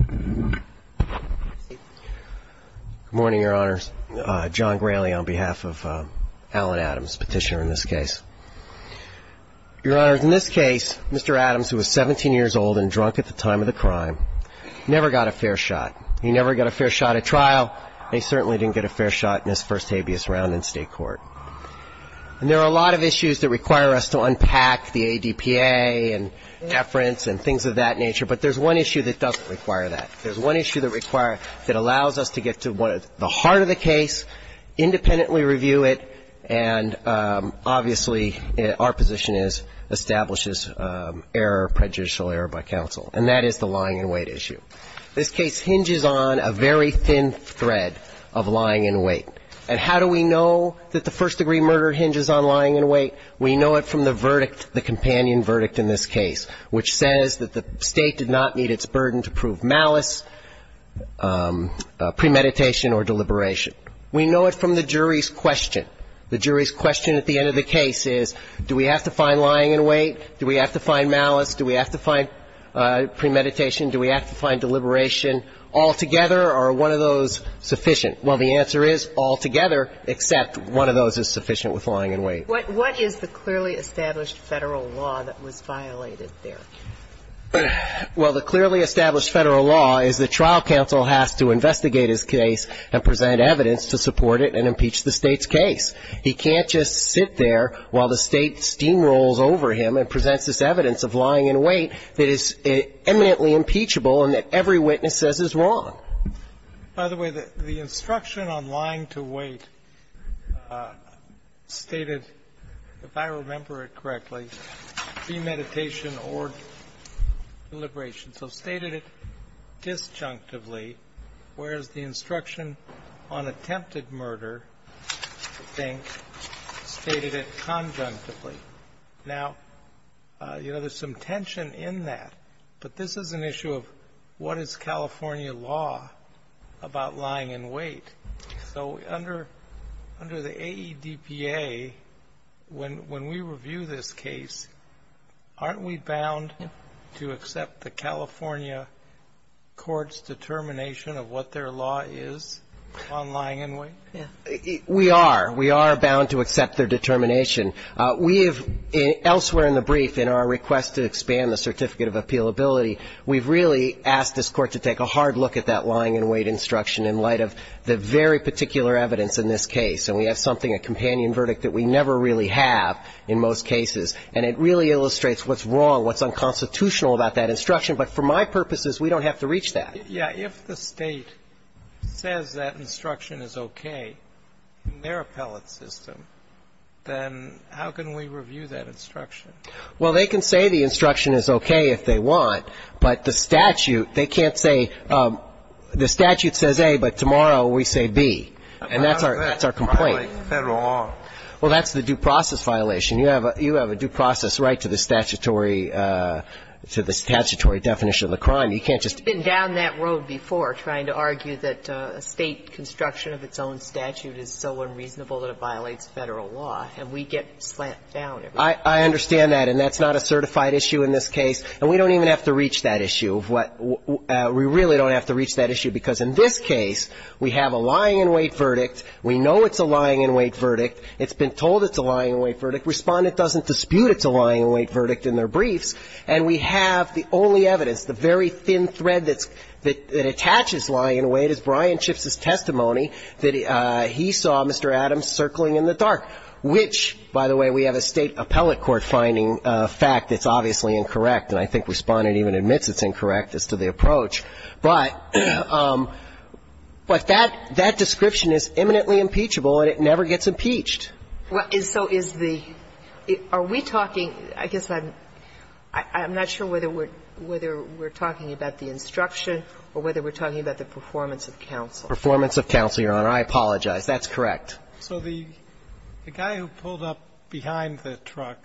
Good morning, Your Honors. John Grayley on behalf of Alan Adams, petitioner in this case. Your Honors, in this case, Mr. Adams, who was 17 years old and drunk at the time of the crime, never got a fair shot. He never got a fair shot at trial, and he certainly didn't get a fair shot in his first habeas round in state court. And there are a lot of issues that require us to unpack the A.D. proceedings, and I'm going to try to do that today. I'm going to start with the first one, which is the P.A. and deference and things of that nature, but there's one issue that doesn't require that. There's one issue that requires that allows us to get to the heart of the case, independently review it, and obviously our position is establishes error, prejudicial error by counsel, and that is the lying in wait issue. This case hinges on a very thin thread of lying in wait. And how do we know that the first-degree murder hinges on lying in wait? We know it from the verdict, the companion verdict in this case, which says that the State did not need its burden to prove malice, premeditation, or deliberation. We know it from the jury's question. The jury's question at the end of the case is, do we have to find lying in wait? Do we have to find malice? Do we have to find premeditation? Do we have to find deliberation? Altogether, are one of those sufficient? Well, the answer is, altogether, except one of those is sufficient with lying in wait. Sotomayor, what is the clearly established Federal law that was violated there? Well, the clearly established Federal law is that trial counsel has to investigate his case and present evidence to support it and impeach the State's case. He can't just sit there while the State steamrolls over him and presents this evidence of lying in wait that is eminently impeachable and that every witness says is wrong. By the way, the instruction on lying to wait stated, if I remember it correctly, premeditation or deliberation. So stated it disjunctively, whereas the instruction on attempted murder, I think, stated it conjunctively. Now, you know, there's some tension in that. But this is an issue of what is California law about lying in wait. So under the AEDPA, when we review this case, aren't we bound to accept the California court's determination of what their law is on lying in wait? We are. We are bound to accept their determination. We have elsewhere in the brief in our request to expand the certificate of appealability, we've really asked this Court to take a hard look at that lying in wait instruction in light of the very particular evidence in this case. And we have something, a companion verdict, that we never really have in most cases. And it really illustrates what's wrong, what's unconstitutional about that instruction. But for my purposes, we don't have to reach that. Yeah. If the State says that instruction is okay in their appellate system, then how can we review that instruction? Well, they can say the instruction is okay if they want. But the statute, they can't say the statute says A, but tomorrow we say B. And that's our complaint. How does that violate Federal law? Well, that's the due process violation. You have a due process right to the statutory definition of the crime. You can't just say, well, we've been down that road before trying to argue that a State construction of its own statute is so unreasonable that it violates Federal law, and we get slant down. I understand that. And that's not a certified issue in this case. And we don't even have to reach that issue of what we really don't have to reach that issue, because in this case, we have a lying in wait verdict, we know it's a lying in wait verdict, it's been told it's a lying in wait verdict, Respondent doesn't dispute it's a lying in wait verdict in their briefs. And we have the only evidence, the very thin thread that attaches lying in wait is Brian Schiff's testimony that he saw Mr. Adams circling in the dark, which, by the way, we have a State appellate court finding fact that's obviously incorrect, and I think Respondent even admits it's incorrect as to the approach. But that description is imminently impeachable, and it never gets impeached. And so is the are we talking I guess I'm not sure whether we're talking about the instruction or whether we're talking about the performance of counsel. Performance of counsel, Your Honor. I apologize. That's correct. So the guy who pulled up behind the truck,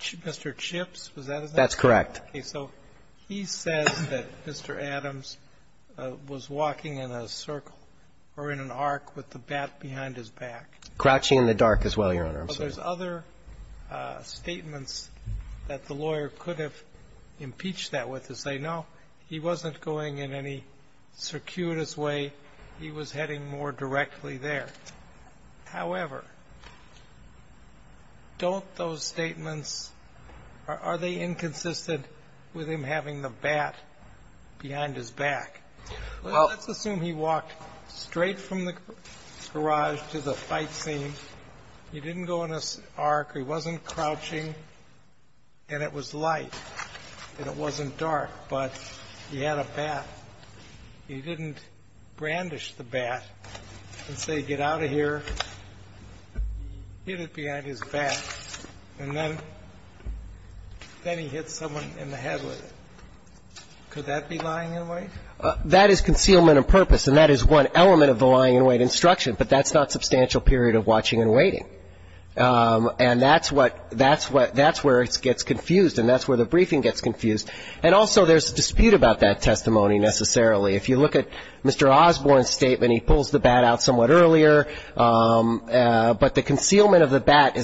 Mr. Chips, was that his name? That's correct. Okay. So he says that Mr. Adams was walking in a circle or in an arc with the bat behind his back. Crouching in the dark as well, Your Honor. There's other statements that the lawyer could have impeached that with, to say, no, he wasn't going in any circuitous way. He was heading more directly there. However, don't those statements, are they inconsistent with him having the bat behind his back? Well, let's assume he walked straight from the garage to the fight scene, he didn't go in an arc, he wasn't crouching, and it was light and it wasn't dark, but he had a bat. He didn't brandish the bat and say, get out of here, hit it behind his back, and then he hit someone in the head with it. Could that be lying in a way? That is concealment of purpose, and that is one element of the lying in wait instruction, but that's not substantial period of watching and waiting. And that's where it gets confused, and that's where the briefing gets confused. And also there's a dispute about that testimony, necessarily. If you look at Mr. Osborne's statement, he pulls the bat out somewhat earlier, but the concealment of the bat does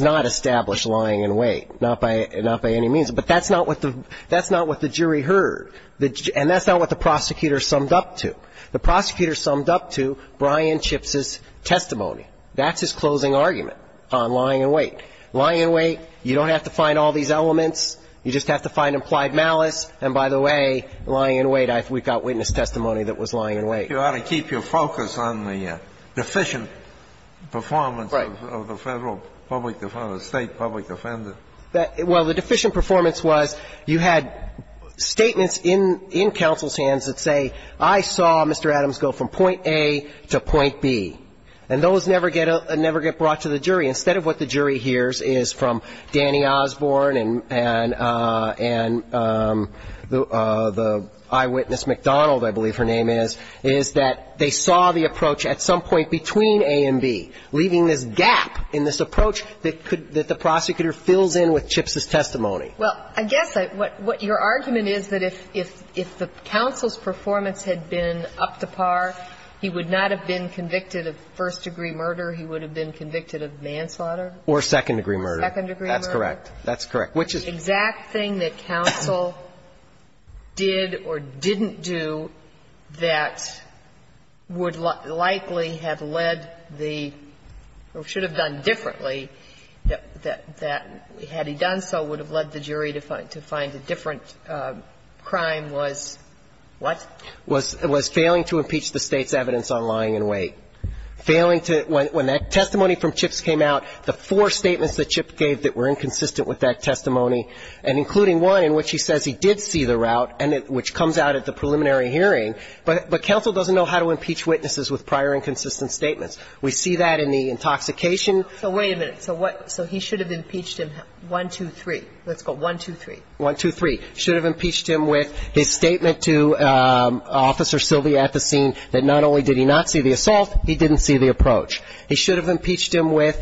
not establish lying in wait, not by any means. But that's not what the jury heard, and that's not what the prosecutor summed up to. The prosecutor summed up to Brian Chips' testimony. That's his closing argument on lying in wait. Lying in wait, you don't have to find all these elements, you just have to find implied malice, and by the way, lying in wait, we've got witness testimony that was lying in wait. You ought to keep your focus on the deficient performance of the Federal public defender, State public defender. Well, the deficient performance was you had statements in counsel's hands that say, I saw Mr. Adams go from point A to point B, and those never get brought to the jury. Instead of what the jury hears is from Danny Osborne and the eyewitness McDonald, I believe her name is, is that they saw the approach at some point between A and B, leaving this gap in this approach that the prosecutor fills in with Chips' testimony. Well, I guess what your argument is that if the counsel's performance had been up to par, he would not have been convicted of first-degree murder, he would have been convicted of manslaughter. Or second-degree murder. Second-degree murder. That's correct. That's correct. Which is the exact thing that counsel did or didn't do that would likely have led the or should have done differently, that had he done so would have led the jury to find a different crime was what? Was failing to impeach the State's evidence on lying in wait. Failing to when that testimony from Chips came out, the four statements that Chips gave that were inconsistent with that testimony, and including one in which he says he did see the route and it which comes out at the preliminary hearing, but counsel doesn't know how to impeach witnesses with prior inconsistent statements. We see that in the intoxication. So wait a minute, so what, so he should have impeached him one, two, three. Let's go one, two, three. One, two, three. Should have impeached him with his statement to Officer Sylvia at the scene that not only did he not see the assault, he didn't see the approach. He should have impeached him with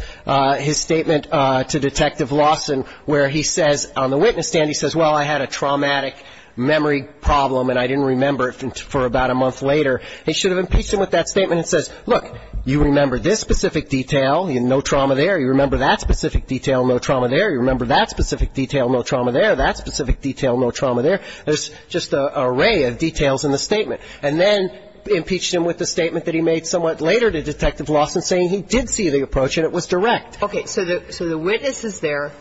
his statement to Detective Lawson where he says on the witness stand, he says, well, I had a traumatic memory problem and I didn't remember it for about a month later. He should have impeached him with that statement and says, look, you remember this specific detail, no trauma there. You remember that specific detail, no trauma there. You remember that specific detail, no trauma there. That specific detail, no trauma there. There's just an array of details in the statement. And then impeached him with the statement that he made somewhat later to Detective Lawson saying he did see the approach and it was direct. Okay. So the witness is there.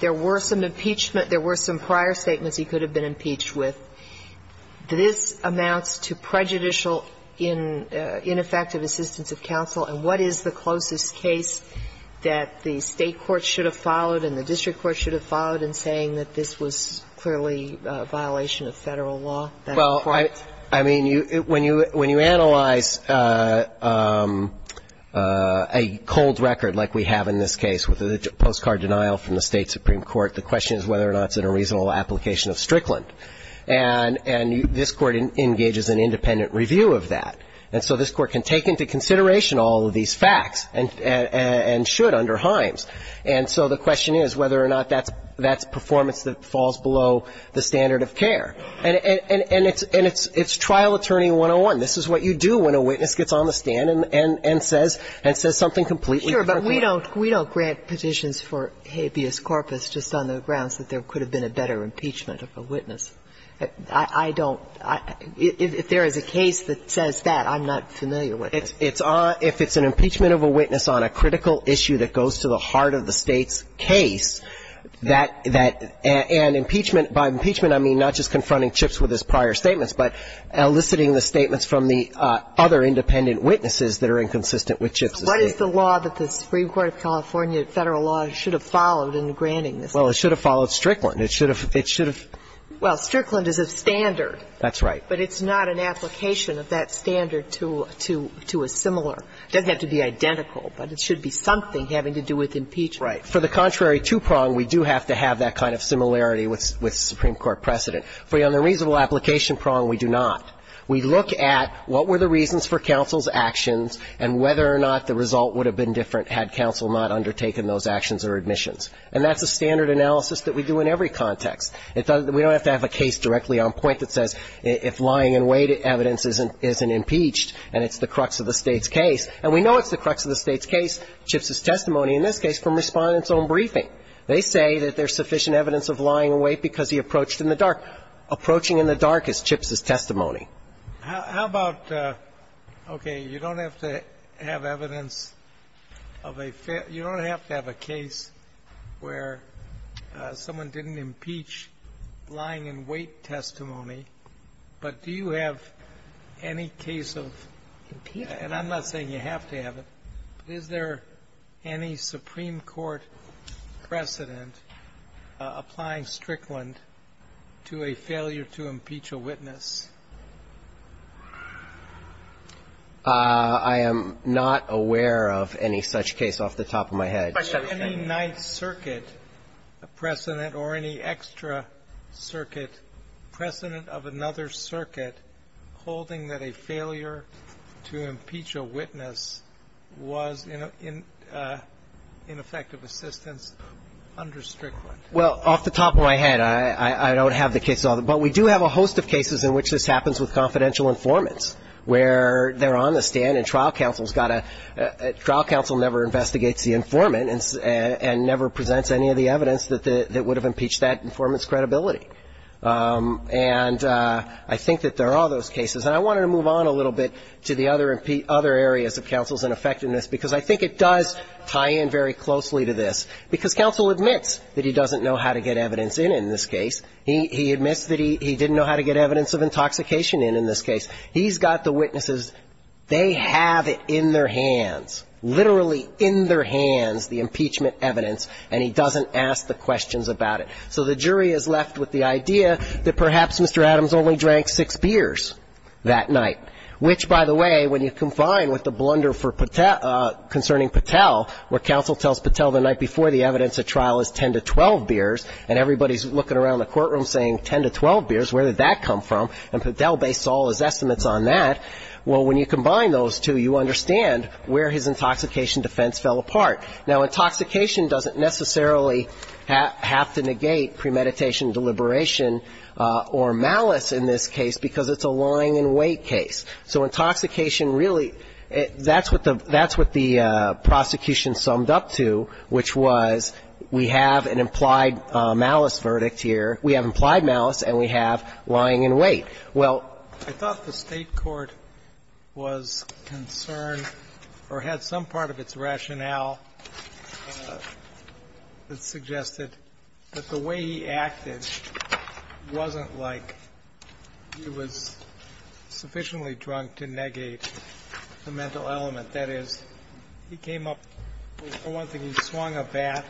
There were some impeachment – there were some prior statements he could have been impeached with. This amounts to prejudicial ineffective assistance of counsel. And what is the closest case that the State courts should have followed and the district courts should have followed in saying that this was clearly a violation of Federal law? Well, I mean, when you analyze a cold record like we have in this case with the postcard denial from the State supreme court, the question is whether or not it's in a reasonable application of Strickland. And this Court engages in independent review of that. And so this Court can take into consideration all of these facts and should under Himes. And so the question is whether or not that's performance that falls below the standard of care. And it's trial attorney 101. This is what you do when a witness gets on the stand and says something completely different. Sure. But we don't grant petitions for habeas corpus just on the grounds that there could have been a better impeachment of a witness. I don't – if there is a case that says that, I'm not familiar with it. It's on – if it's an impeachment of a witness on a critical issue that goes to the heart of the State's case, that – and impeachment – by impeachment, I mean not just confronting Chips with his prior statements, but eliciting the statements from the other independent witnesses that are inconsistent with Chips' case. What is the law that the Supreme Court of California Federal law should have followed in granting this case? Well, it should have followed Strickland. It should have – it should have – Well, Strickland is a standard. That's right. But it's not an application of that standard to – to a similar – doesn't have to be identical, but it should be something having to do with impeachment. Right. For the contrary two-prong, we do have to have that kind of similarity with – with Supreme Court precedent. For the unreasonable application prong, we do not. We look at what were the reasons for counsel's actions and whether or not the result would have been different had counsel not undertaken those actions or admissions. And that's a standard analysis that we do in every context. It doesn't – we don't have to have a case directly on point that says if lying in wait, evidence isn't impeached, and it's the crux of the State's case. And we know it's the crux of the State's case, Chips' testimony, in this case, from Respondent's own briefing. They say that there's sufficient evidence of lying in wait because he approached in the dark. Approaching in the dark is Chips' testimony. How about – okay. You don't have to have evidence of a – you don't have to have a case where someone didn't impeach lying in wait testimony, but do you have any case of – and I'm not saying you have to have it, but is there any Supreme Court precedent applying Strickland to a failure to impeach a witness? I am not aware of any such case off the top of my head. Any Ninth Circuit precedent or any extra circuit precedent of another circuit holding that a failure to impeach a witness was in effect of assistance under Strickland? Well, off the top of my head, I don't have the case. But we do have a host of cases in which this happens with confidential informants where they're on the stand and trial counsel's got to – trial counsel never investigates the informant and never presents any of the evidence that would have impeached that informant's credibility. And I think that there are those cases. And I wanted to move on a little bit to the other areas of counsel's ineffectiveness because I think it does tie in very closely to this. Because counsel admits that he doesn't know how to get evidence in in this case. He admits that he didn't know how to get evidence of intoxication in in this case. He's got the witnesses. They have it in their hands, literally in their hands, the impeachment evidence, and he doesn't ask the questions about it. So the jury is left with the idea that perhaps Mr. Adams only drank six beers that night, which, by the way, when you confine with the blunder concerning Patel, where counsel tells Patel the night before the evidence at trial is 10 to 12 beers and everybody's looking around the courtroom saying 10 to 12 beers, where did that come from? And Patel based all his estimates on that. Well, when you combine those two, you understand where his intoxication defense fell apart. Now, intoxication doesn't necessarily have to negate premeditation deliberation or malice in this case because it's a lying in wait case. So intoxication really – that's what the prosecution summed up to, which was we have an implied malice verdict here. We have implied malice and we have lying in wait. Well, I thought the State court was concerned or had some part of its rationale that suggested that the way he acted wasn't like he was sufficiently drunk to negate the mental element. That is, he came up – for one thing, he swung a bat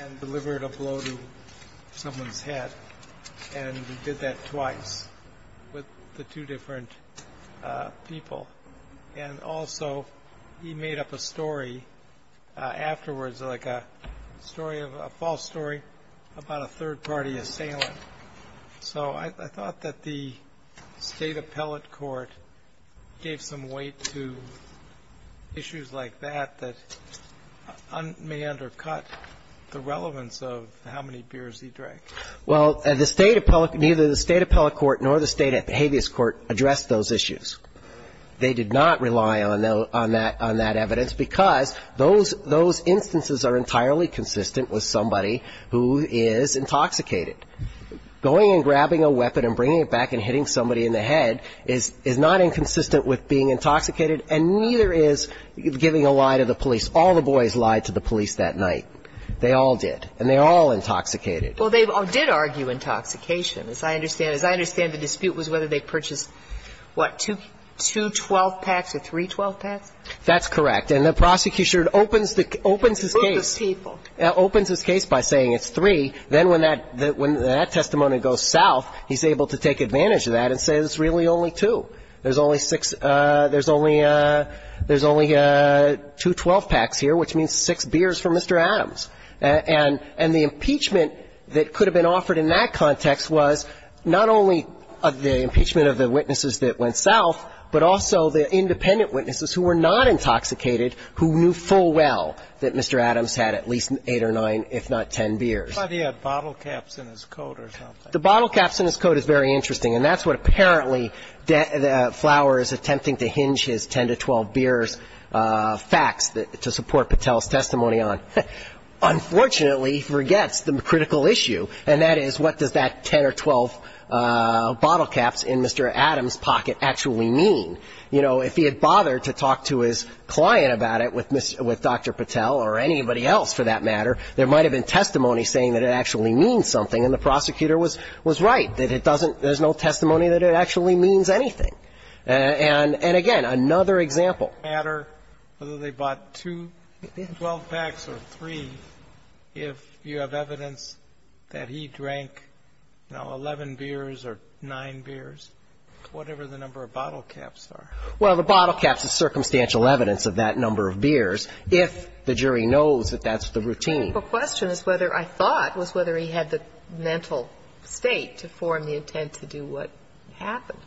and delivered a blow to someone's head and he did that twice with the two different people. And also, he made up a story afterwards, like a false story about a third-party assailant. So I thought that the State appellate court gave some weight to issues like that, that may undercut the relevance of how many beers he drank. Well, the State appellate – neither the State appellate court nor the State habeas court addressed those issues. They did not rely on that evidence because those instances are entirely consistent with somebody who is intoxicated. Going and grabbing a weapon and bringing it back and hitting somebody in the head is not inconsistent with being intoxicated, and neither is giving a lie to the police. All the boys lied to the police that night. They all did. And they all intoxicated. Well, they did argue intoxication, as I understand. As I understand, the dispute was whether they purchased, what, two 12-packs or three 12-packs? That's correct. And the prosecution opens the case. A group of people. Opens his case by saying it's three. Then when that – when that testimony goes south, he's able to take advantage of that and say it's really only two. There's only six – there's only – there's only two 12-packs here, which means six beers for Mr. Adams. And the impeachment that could have been offered in that context was not only the impeachment of the witnesses that went south, but also the independent witnesses who were not eight or nine, if not ten beers. But he had bottle caps in his coat or something. The bottle caps in his coat is very interesting. And that's what apparently Flower is attempting to hinge his 10 to 12 beers facts to support Patel's testimony on. Unfortunately, he forgets the critical issue. And that is, what does that 10 or 12 bottle caps in Mr. Adams' pocket actually mean? You know, if he had bothered to talk to his client about it with Dr. Patel or anybody else, for that matter, there might have been testimony saying that it actually means something. And the prosecutor was – was right, that it doesn't – there's no testimony that it actually means anything. And – and, again, another example. But it doesn't matter whether they bought two 12-packs or three if you have evidence that he drank, you know, 11 beers or nine beers, whatever the number of bottle caps are. Well, the bottle caps is circumstantial evidence of that number of beers. If the jury knows that that's the routine. The question is whether – I thought was whether he had the mental state to form the intent to do what happened.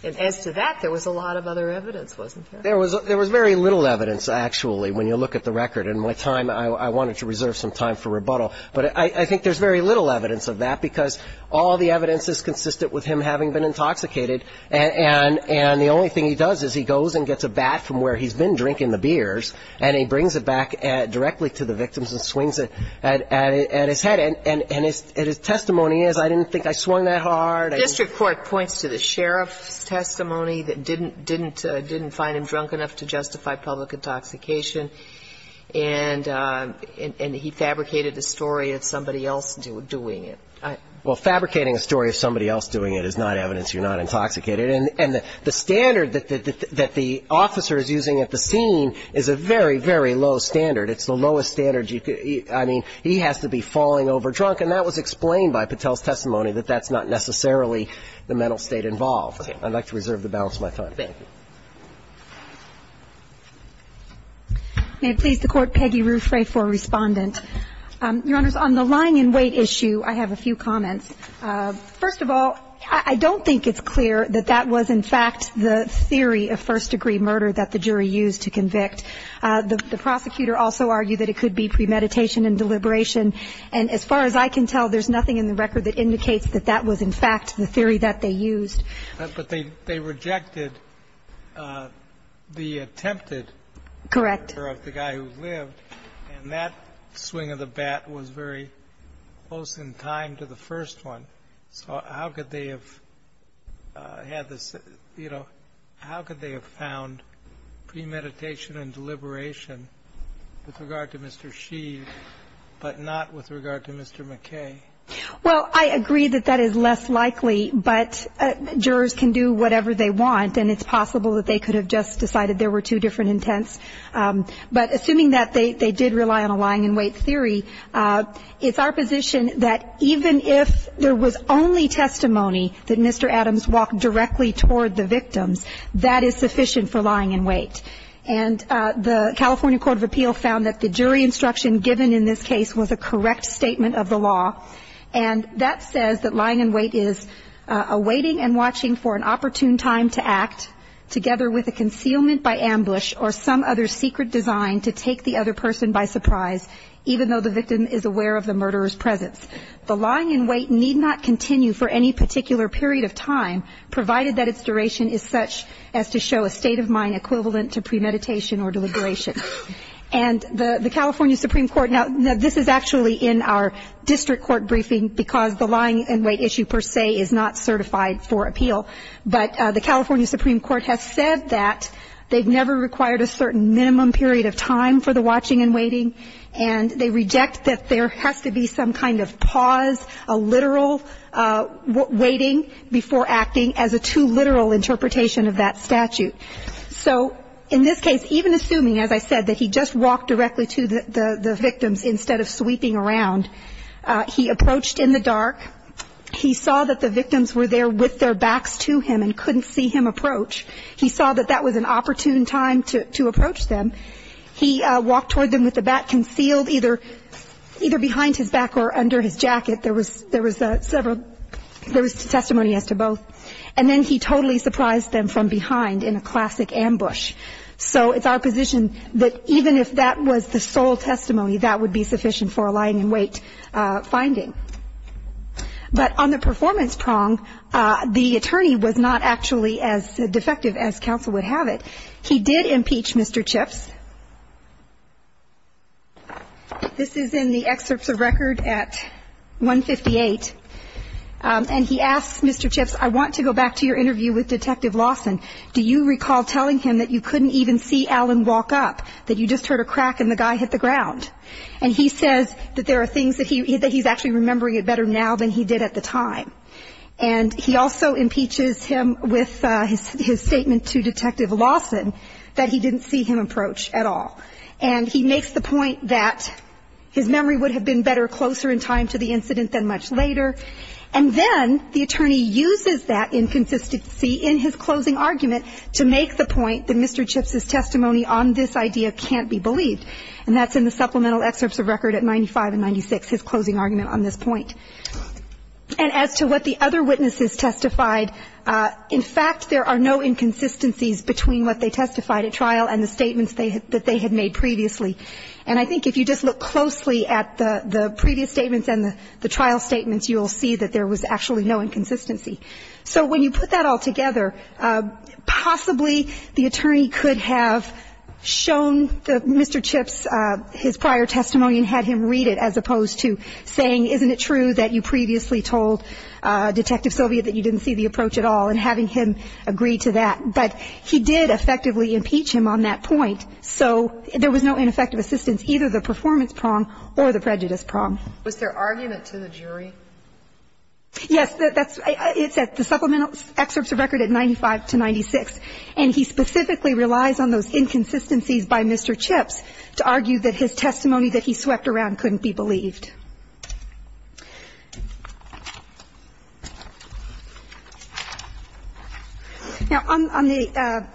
And as to that, there was a lot of other evidence, wasn't there? There was – there was very little evidence, actually, when you look at the record. And my time – I wanted to reserve some time for rebuttal. But I think there's very little evidence of that because all the evidence is consistent with him having been intoxicated. And – and the only thing he does is he goes and gets a bat from where he's been drinking the beers. And he brings it back directly to the victims and swings it at his head. And – and his testimony is, I didn't think I swung that hard. The district court points to the sheriff's testimony that didn't – didn't – didn't find him drunk enough to justify public intoxication. And – and he fabricated a story of somebody else doing it. Well, fabricating a story of somebody else doing it is not evidence you're not intoxicated. And the standard that the – that the officer is using at the scene is a very, very low standard. It's the lowest standard you could – I mean, he has to be falling over drunk. And that was explained by Patel's testimony, that that's not necessarily the mental state involved. I'd like to reserve the balance of my time. Thank you. May it please the Court, Peggy Ruthray for Respondent. Your Honors, on the lying in wait issue, I have a few comments. First of all, I don't think it's clear that that was, in fact, the theory of first degree murder that the jury used to convict. The prosecutor also argued that it could be premeditation and deliberation. And as far as I can tell, there's nothing in the record that indicates that that was, in fact, the theory that they used. But they – they rejected the attempted murder of the guy who lived. Correct. And that swing of the bat was very close in time to the first one. So how could they have had this – you know, how could they have found premeditation and deliberation with regard to Mr. Sheave, but not with regard to Mr. McKay? Well, I agree that that is less likely. But jurors can do whatever they want. And it's possible that they could have just decided there were two different intents. But assuming that they did rely on a lying in wait theory, it's our position that even if there was only testimony that Mr. Adams walked directly toward the victims, that is sufficient for lying in wait. And the California Court of Appeal found that the jury instruction given in this case was a correct statement of the law. And that says that lying in wait is awaiting and watching for an opportune time to act, together with a concealment by ambush or some other secret design to take the other person by surprise, even though the victim is aware of the murderer's presence. The lying in wait need not continue for any particular period of time, provided that its duration is such as to show a state of mind equivalent to premeditation or deliberation. And the California Supreme Court – now, this is actually in our district court briefing because the lying in wait issue per se is not certified for appeal. But the California Supreme Court has said that they've never required a certain minimum period of time for the watching and waiting. And they reject that there has to be some kind of pause, a literal waiting before acting as a too literal interpretation of that statute. So in this case, even assuming, as I said, that he just walked directly to the victims instead of sweeping around, he approached in the dark. He saw that the victims were there with their backs to him and couldn't see him approach. He saw that that was an opportune time to approach them. He walked toward them with the back concealed, either behind his back or under his jacket. There was several – there was testimony as to both. And then he totally surprised them from behind in a classic ambush. So it's our position that even if that was the sole testimony, that would be sufficient for a lying in wait finding. But on the performance prong, the attorney was not actually as defective as counsel would have it. He did impeach Mr. Chips. This is in the excerpts of record at 158. And he asks Mr. Chips, I want to go back to your interview with Detective Lawson. Do you recall telling him that you couldn't even see Alan walk up, that you just heard a crack and the guy hit the ground? And he says that there are things that he's actually remembering it better now than he did at the time. And he also impeaches him with his statement to Detective Lawson that he didn't see him approach at all. And he makes the point that his memory would have been better closer in time to the incident than much later. And then the attorney uses that inconsistency in his closing argument to make the point that Mr. Chips' testimony on this idea can't be believed. And that's in the supplemental excerpts of record at 95 and 96, his closing argument on this point. And as to what the other witnesses testified, in fact, there are no inconsistencies between what they testified at trial and the statements that they had made previously. And I think if you just look closely at the previous statements and the trial statements, you will see that there was actually no inconsistency. So when you put that all together, possibly the attorney could have shown that Mr. Chips' prior testimony and had him read it as opposed to saying, isn't it true that you previously told Detective Sylvia that you didn't see the approach at all, and having him agree to that. But he did effectively impeach him on that point. So there was no ineffective assistance, either the performance prong or the prejudice prong. Was there argument to the jury? Yes, it's at the supplemental excerpts of record at 95 to 96. And he specifically relies on those inconsistencies by Mr. Chips to argue that his testimony that he swept around couldn't be believed. Now, on the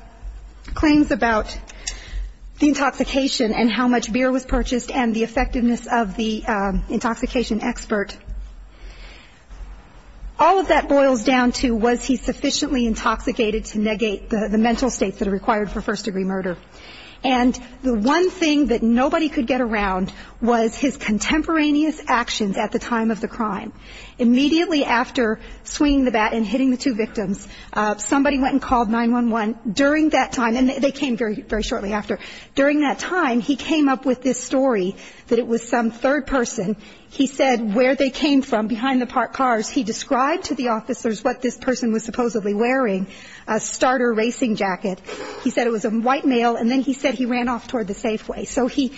claims about the intoxication and how much beer was purchased and the effectiveness of the intoxication expert, all of that boils down to was he sufficiently intoxicated to negate the mental states that are required for first-degree murder. And the one thing that nobody could get around was his contemporaneous actions at the time of the crime. Immediately after swinging the bat and hitting the two victims, somebody went and called 911 during that time, and they came very shortly after. During that time, he came up with this story that it was some third person, he said where they came from behind the parked cars, he described to the officers what this person was supposedly wearing, a starter racing jacket. He said it was a white male, and then he said he ran off toward the safeway. So he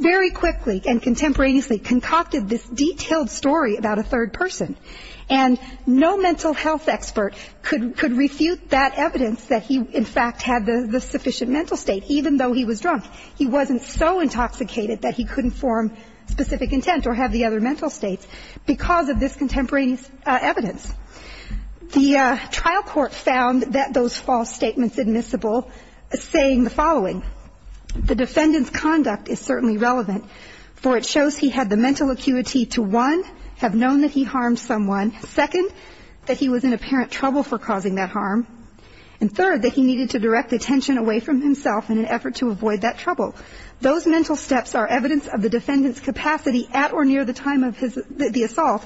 very quickly and contemporaneously concocted this detailed story about a third person. And no mental health expert could refute that evidence that he, in fact, had the sufficient mental state, even though he was drunk. He wasn't so intoxicated that he couldn't form specific intent or have the other mental states because of this contemporaneous evidence. The trial court found that those false statements admissible saying the following. The defendant's conduct is certainly relevant, for it shows he had the mental acuity to, one, have known that he harmed someone, second, that he was in apparent trouble for causing that harm, and third, that he needed to direct attention away from himself in an effort to avoid that trouble. Those mental steps are evidence of the defendant's capacity at or near the time of the assault,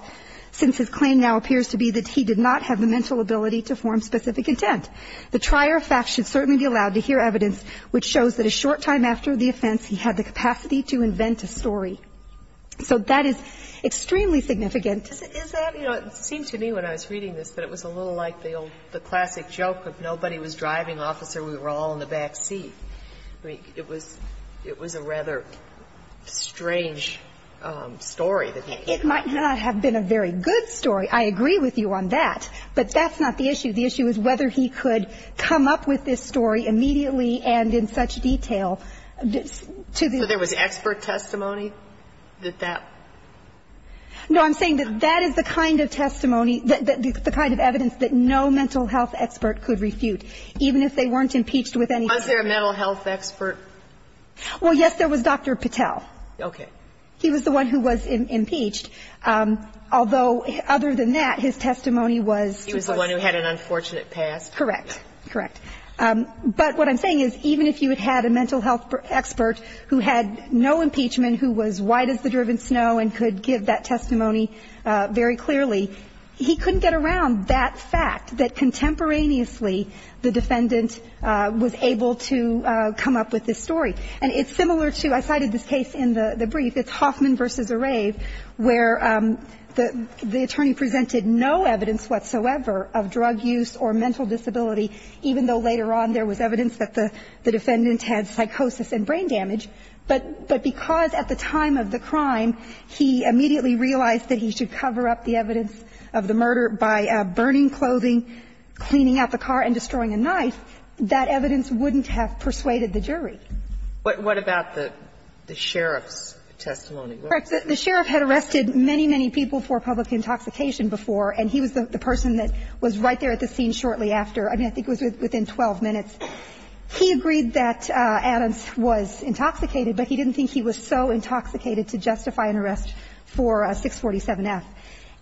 since his claim now appears to be that he did not have the mental ability to form specific intent. The trier of facts should certainly be allowed to hear evidence which shows that a short time after the offense, he had the capacity to invent a story. So that is extremely significant. Is that, you know, it seemed to me when I was reading this, that it was a little like the classic joke of nobody was driving, officer, we were all in the back seat. It was a rather strange story. It might not have been a very good story. I agree with you on that. But that's not the issue. The issue is whether he could come up with this story immediately and in such detail. So there was expert testimony that that? No, I'm saying that that is the kind of testimony, the kind of evidence that no mental health expert could refute, even if they weren't impeached with anything. Was there a mental health expert? Well, yes, there was Dr. Patel. Okay. He was the one who was impeached, although other than that, his testimony was. He was the one who had an unfortunate past. Correct. Correct. But what I'm saying is even if you had a mental health expert who had no impeachment, who was white as the driven snow and could give that testimony very clearly, he couldn't get around that fact that contemporaneously, the defendant was able to come up with this story. And it's similar to, I cited this case in the brief, it's Hoffman versus Arraive, where the attorney presented no evidence whatsoever of drug use or mental disability, even though later on there was evidence that the defendant had psychosis and brain damage. But because at the time of the crime, he immediately realized that he should cover up the evidence of the murder by burning clothing, cleaning out the car and destroying a knife, that evidence wouldn't have persuaded the jury. What about the sheriff's testimony? Correct. The sheriff had arrested many, many people for public intoxication before, and he was the person that was right there at the scene shortly after. I mean, I think it was within 12 minutes. He agreed that Adams was intoxicated, but he didn't think he was so intoxicated to justify an arrest for 647F.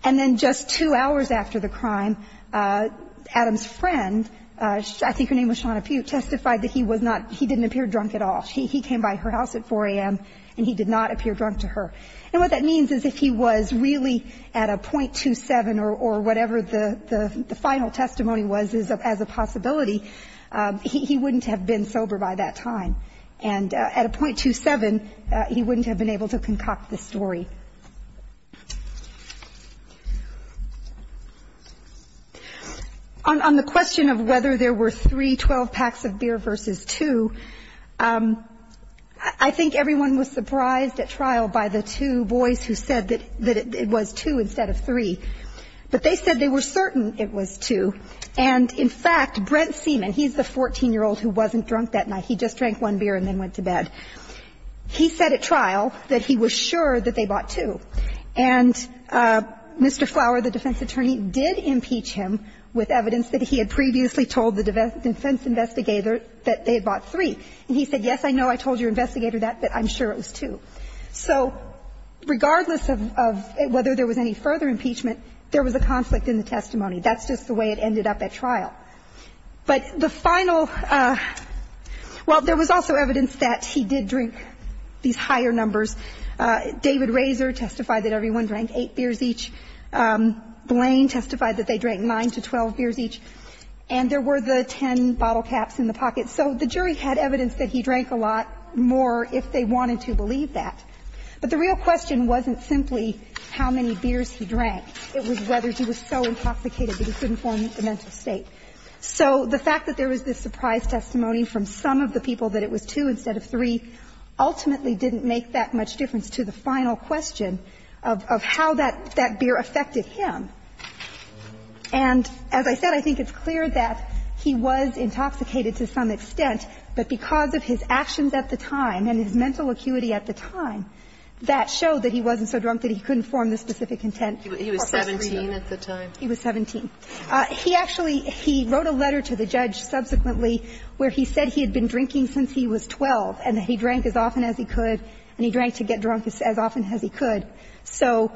And then just two hours after the crime, Adams' friend, I think her name was Shawna Pugh, testified that he was not, he didn't appear drunk at all. He came by her house at 4 a.m., and he did not appear drunk to her. And what that means is if he was really at a .27 or whatever the final testimony was as a possibility, he wouldn't have been sober by that time. And at a .27, he wouldn't have been able to concoct the story. On the question of whether there were three 12-packs-of-beer versus two, I think everyone was surprised at trial by the two boys who said that it was two instead of three, but they said they were certain it was two. And in fact, Brent Seaman, he's the 14-year-old who wasn't drunk that night. He just drank one beer and then went to bed. He said at trial that he was sure that they bought two. And Mr. Flower, the defense attorney, did impeach him with evidence that he had previously told the defense investigator that they had bought three. And he said, yes, I know I told your investigator that, but I'm sure it was two. So regardless of whether there was any further impeachment, there was a conflict in the testimony. That's just the way it ended up at trial. But the final – well, there was also evidence that he did drink these higher numbers. David Razor testified that everyone drank eight beers each. Blaine testified that they drank 9 to 12 beers each. And there were the 10 bottle caps in the pocket. So the jury had evidence that he drank a lot more if they wanted to believe that. But the real question wasn't simply how many beers he drank. It was whether he was so intoxicated that he couldn't form a mental state. So the fact that there was this surprise testimony from some of the people that it was two instead of three ultimately didn't make that much difference to the final question of how that beer affected him. And as I said, I think it's clear that he was intoxicated to some extent, but because of his actions at the time and his mental acuity at the time, that showed that he wasn't so drunk that he couldn't form the specific intent. He was 17 at the time. He was 17. He actually he wrote a letter to the judge subsequently where he said he had been drinking since he was 12 and that he drank as often as he could and he drank to get drunk as often as he could. So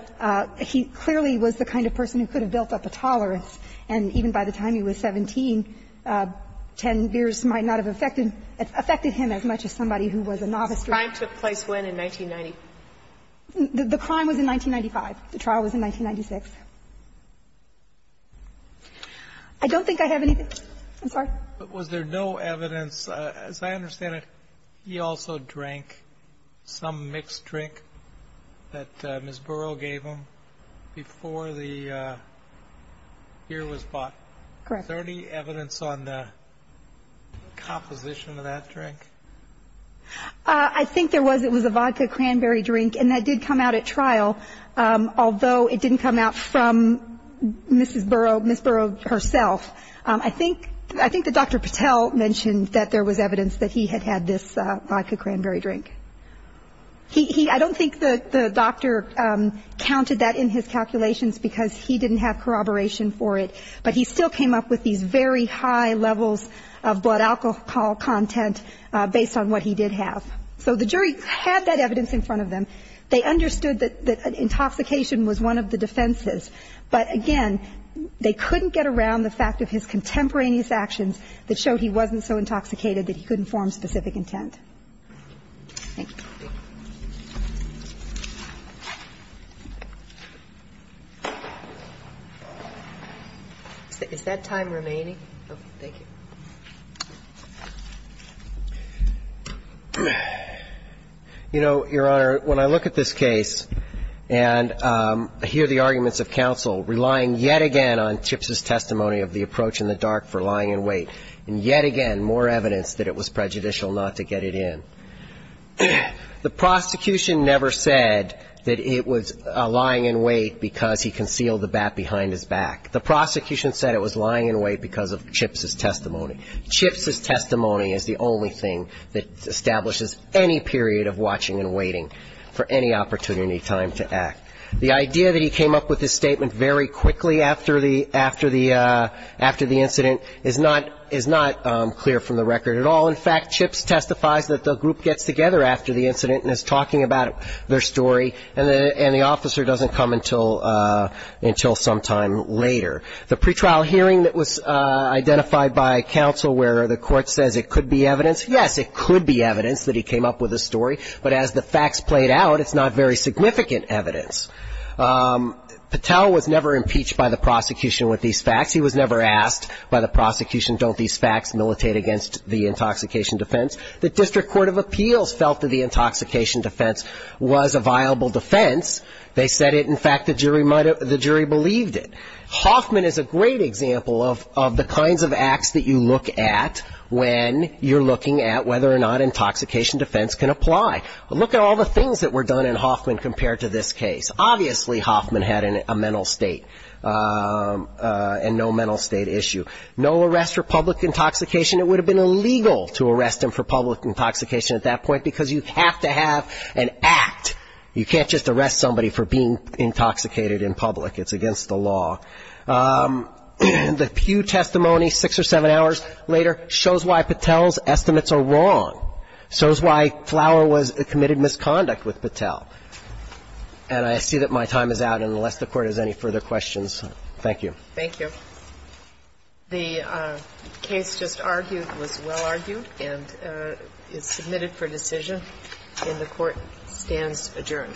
he clearly was the kind of person who could have built up a tolerance. And even by the time he was 17, 10 beers might not have affected him as much as somebody who was a novice drinker. Kagan. When did the crime take place in 1990? The crime was in 1995. The trial was in 1996. I don't think I have anything. I'm sorry. But was there no evidence? As I understand it, he also drank some mixed drink that Ms. Burrow gave him before the beer was bought. Correct. Is there any evidence on the composition of that drink? I think there was. It was a vodka cranberry drink, and that did come out at trial, although it didn't come out from Ms. Burrow herself. I think that Dr. Patel mentioned that there was evidence that he had had this vodka cranberry drink. I don't think the doctor counted that in his calculations because he didn't have corroboration for it, but he still came up with these very high levels of blood alcohol content based on what he did have. So the jury had that evidence in front of them. They understood that intoxication was one of the defenses, but again, they couldn't get around the fact of his contemporaneous actions that showed he wasn't so intoxicated that he couldn't form specific intent. Thank you. Is that time remaining? Thank you. You know, Your Honor, when I look at this case and hear the arguments of counsel relying yet again on Chips' testimony of the approach in the dark for lying in wait and yet again more evidence that it was prejudicial not to get it in, the prosecution never said that it was lying in wait because he concealed the bat behind his back. The prosecution said it was lying in wait because of Chips' testimony. Chips' testimony is the only thing that establishes any period of watching and waiting for any opportunity time to act. The idea that he came up with this statement very quickly after the incident is not clear from the record at all. In fact, Chips testifies that the group gets together after the incident and is talking about their story, and the officer doesn't come until sometime later. The pretrial hearing that was identified by counsel where the court says it could be evidence, yes, it could be evidence that he came up with a story, but as the facts played out, it's not very significant evidence. Patel was never impeached by the prosecution with these facts. He was never asked by the prosecution, don't these facts militate against the intoxication defense? The District Court of Appeals felt that the intoxication defense was a viable defense. They said it. In fact, the jury believed it. Hoffman is a great example of the kinds of acts that you look at when you're looking at whether or not intoxication defense can apply. Look at all the things that were done in Hoffman compared to this case. Obviously, Hoffman had a mental state and no mental state issue. No arrest for public intoxication, it would have been illegal to arrest him for public intoxication at that point because you have to have an act. You can't just arrest somebody for being intoxicated in public. It's against the law. The Peugh testimony six or seven hours later shows why Patel's estimates are wrong, shows why Flower was committed misconduct with Patel. And I see that my time is out. And unless the Court has any further questions, thank you. Thank you. The case just argued was well argued and is submitted for decision. And the Court stands adjourned.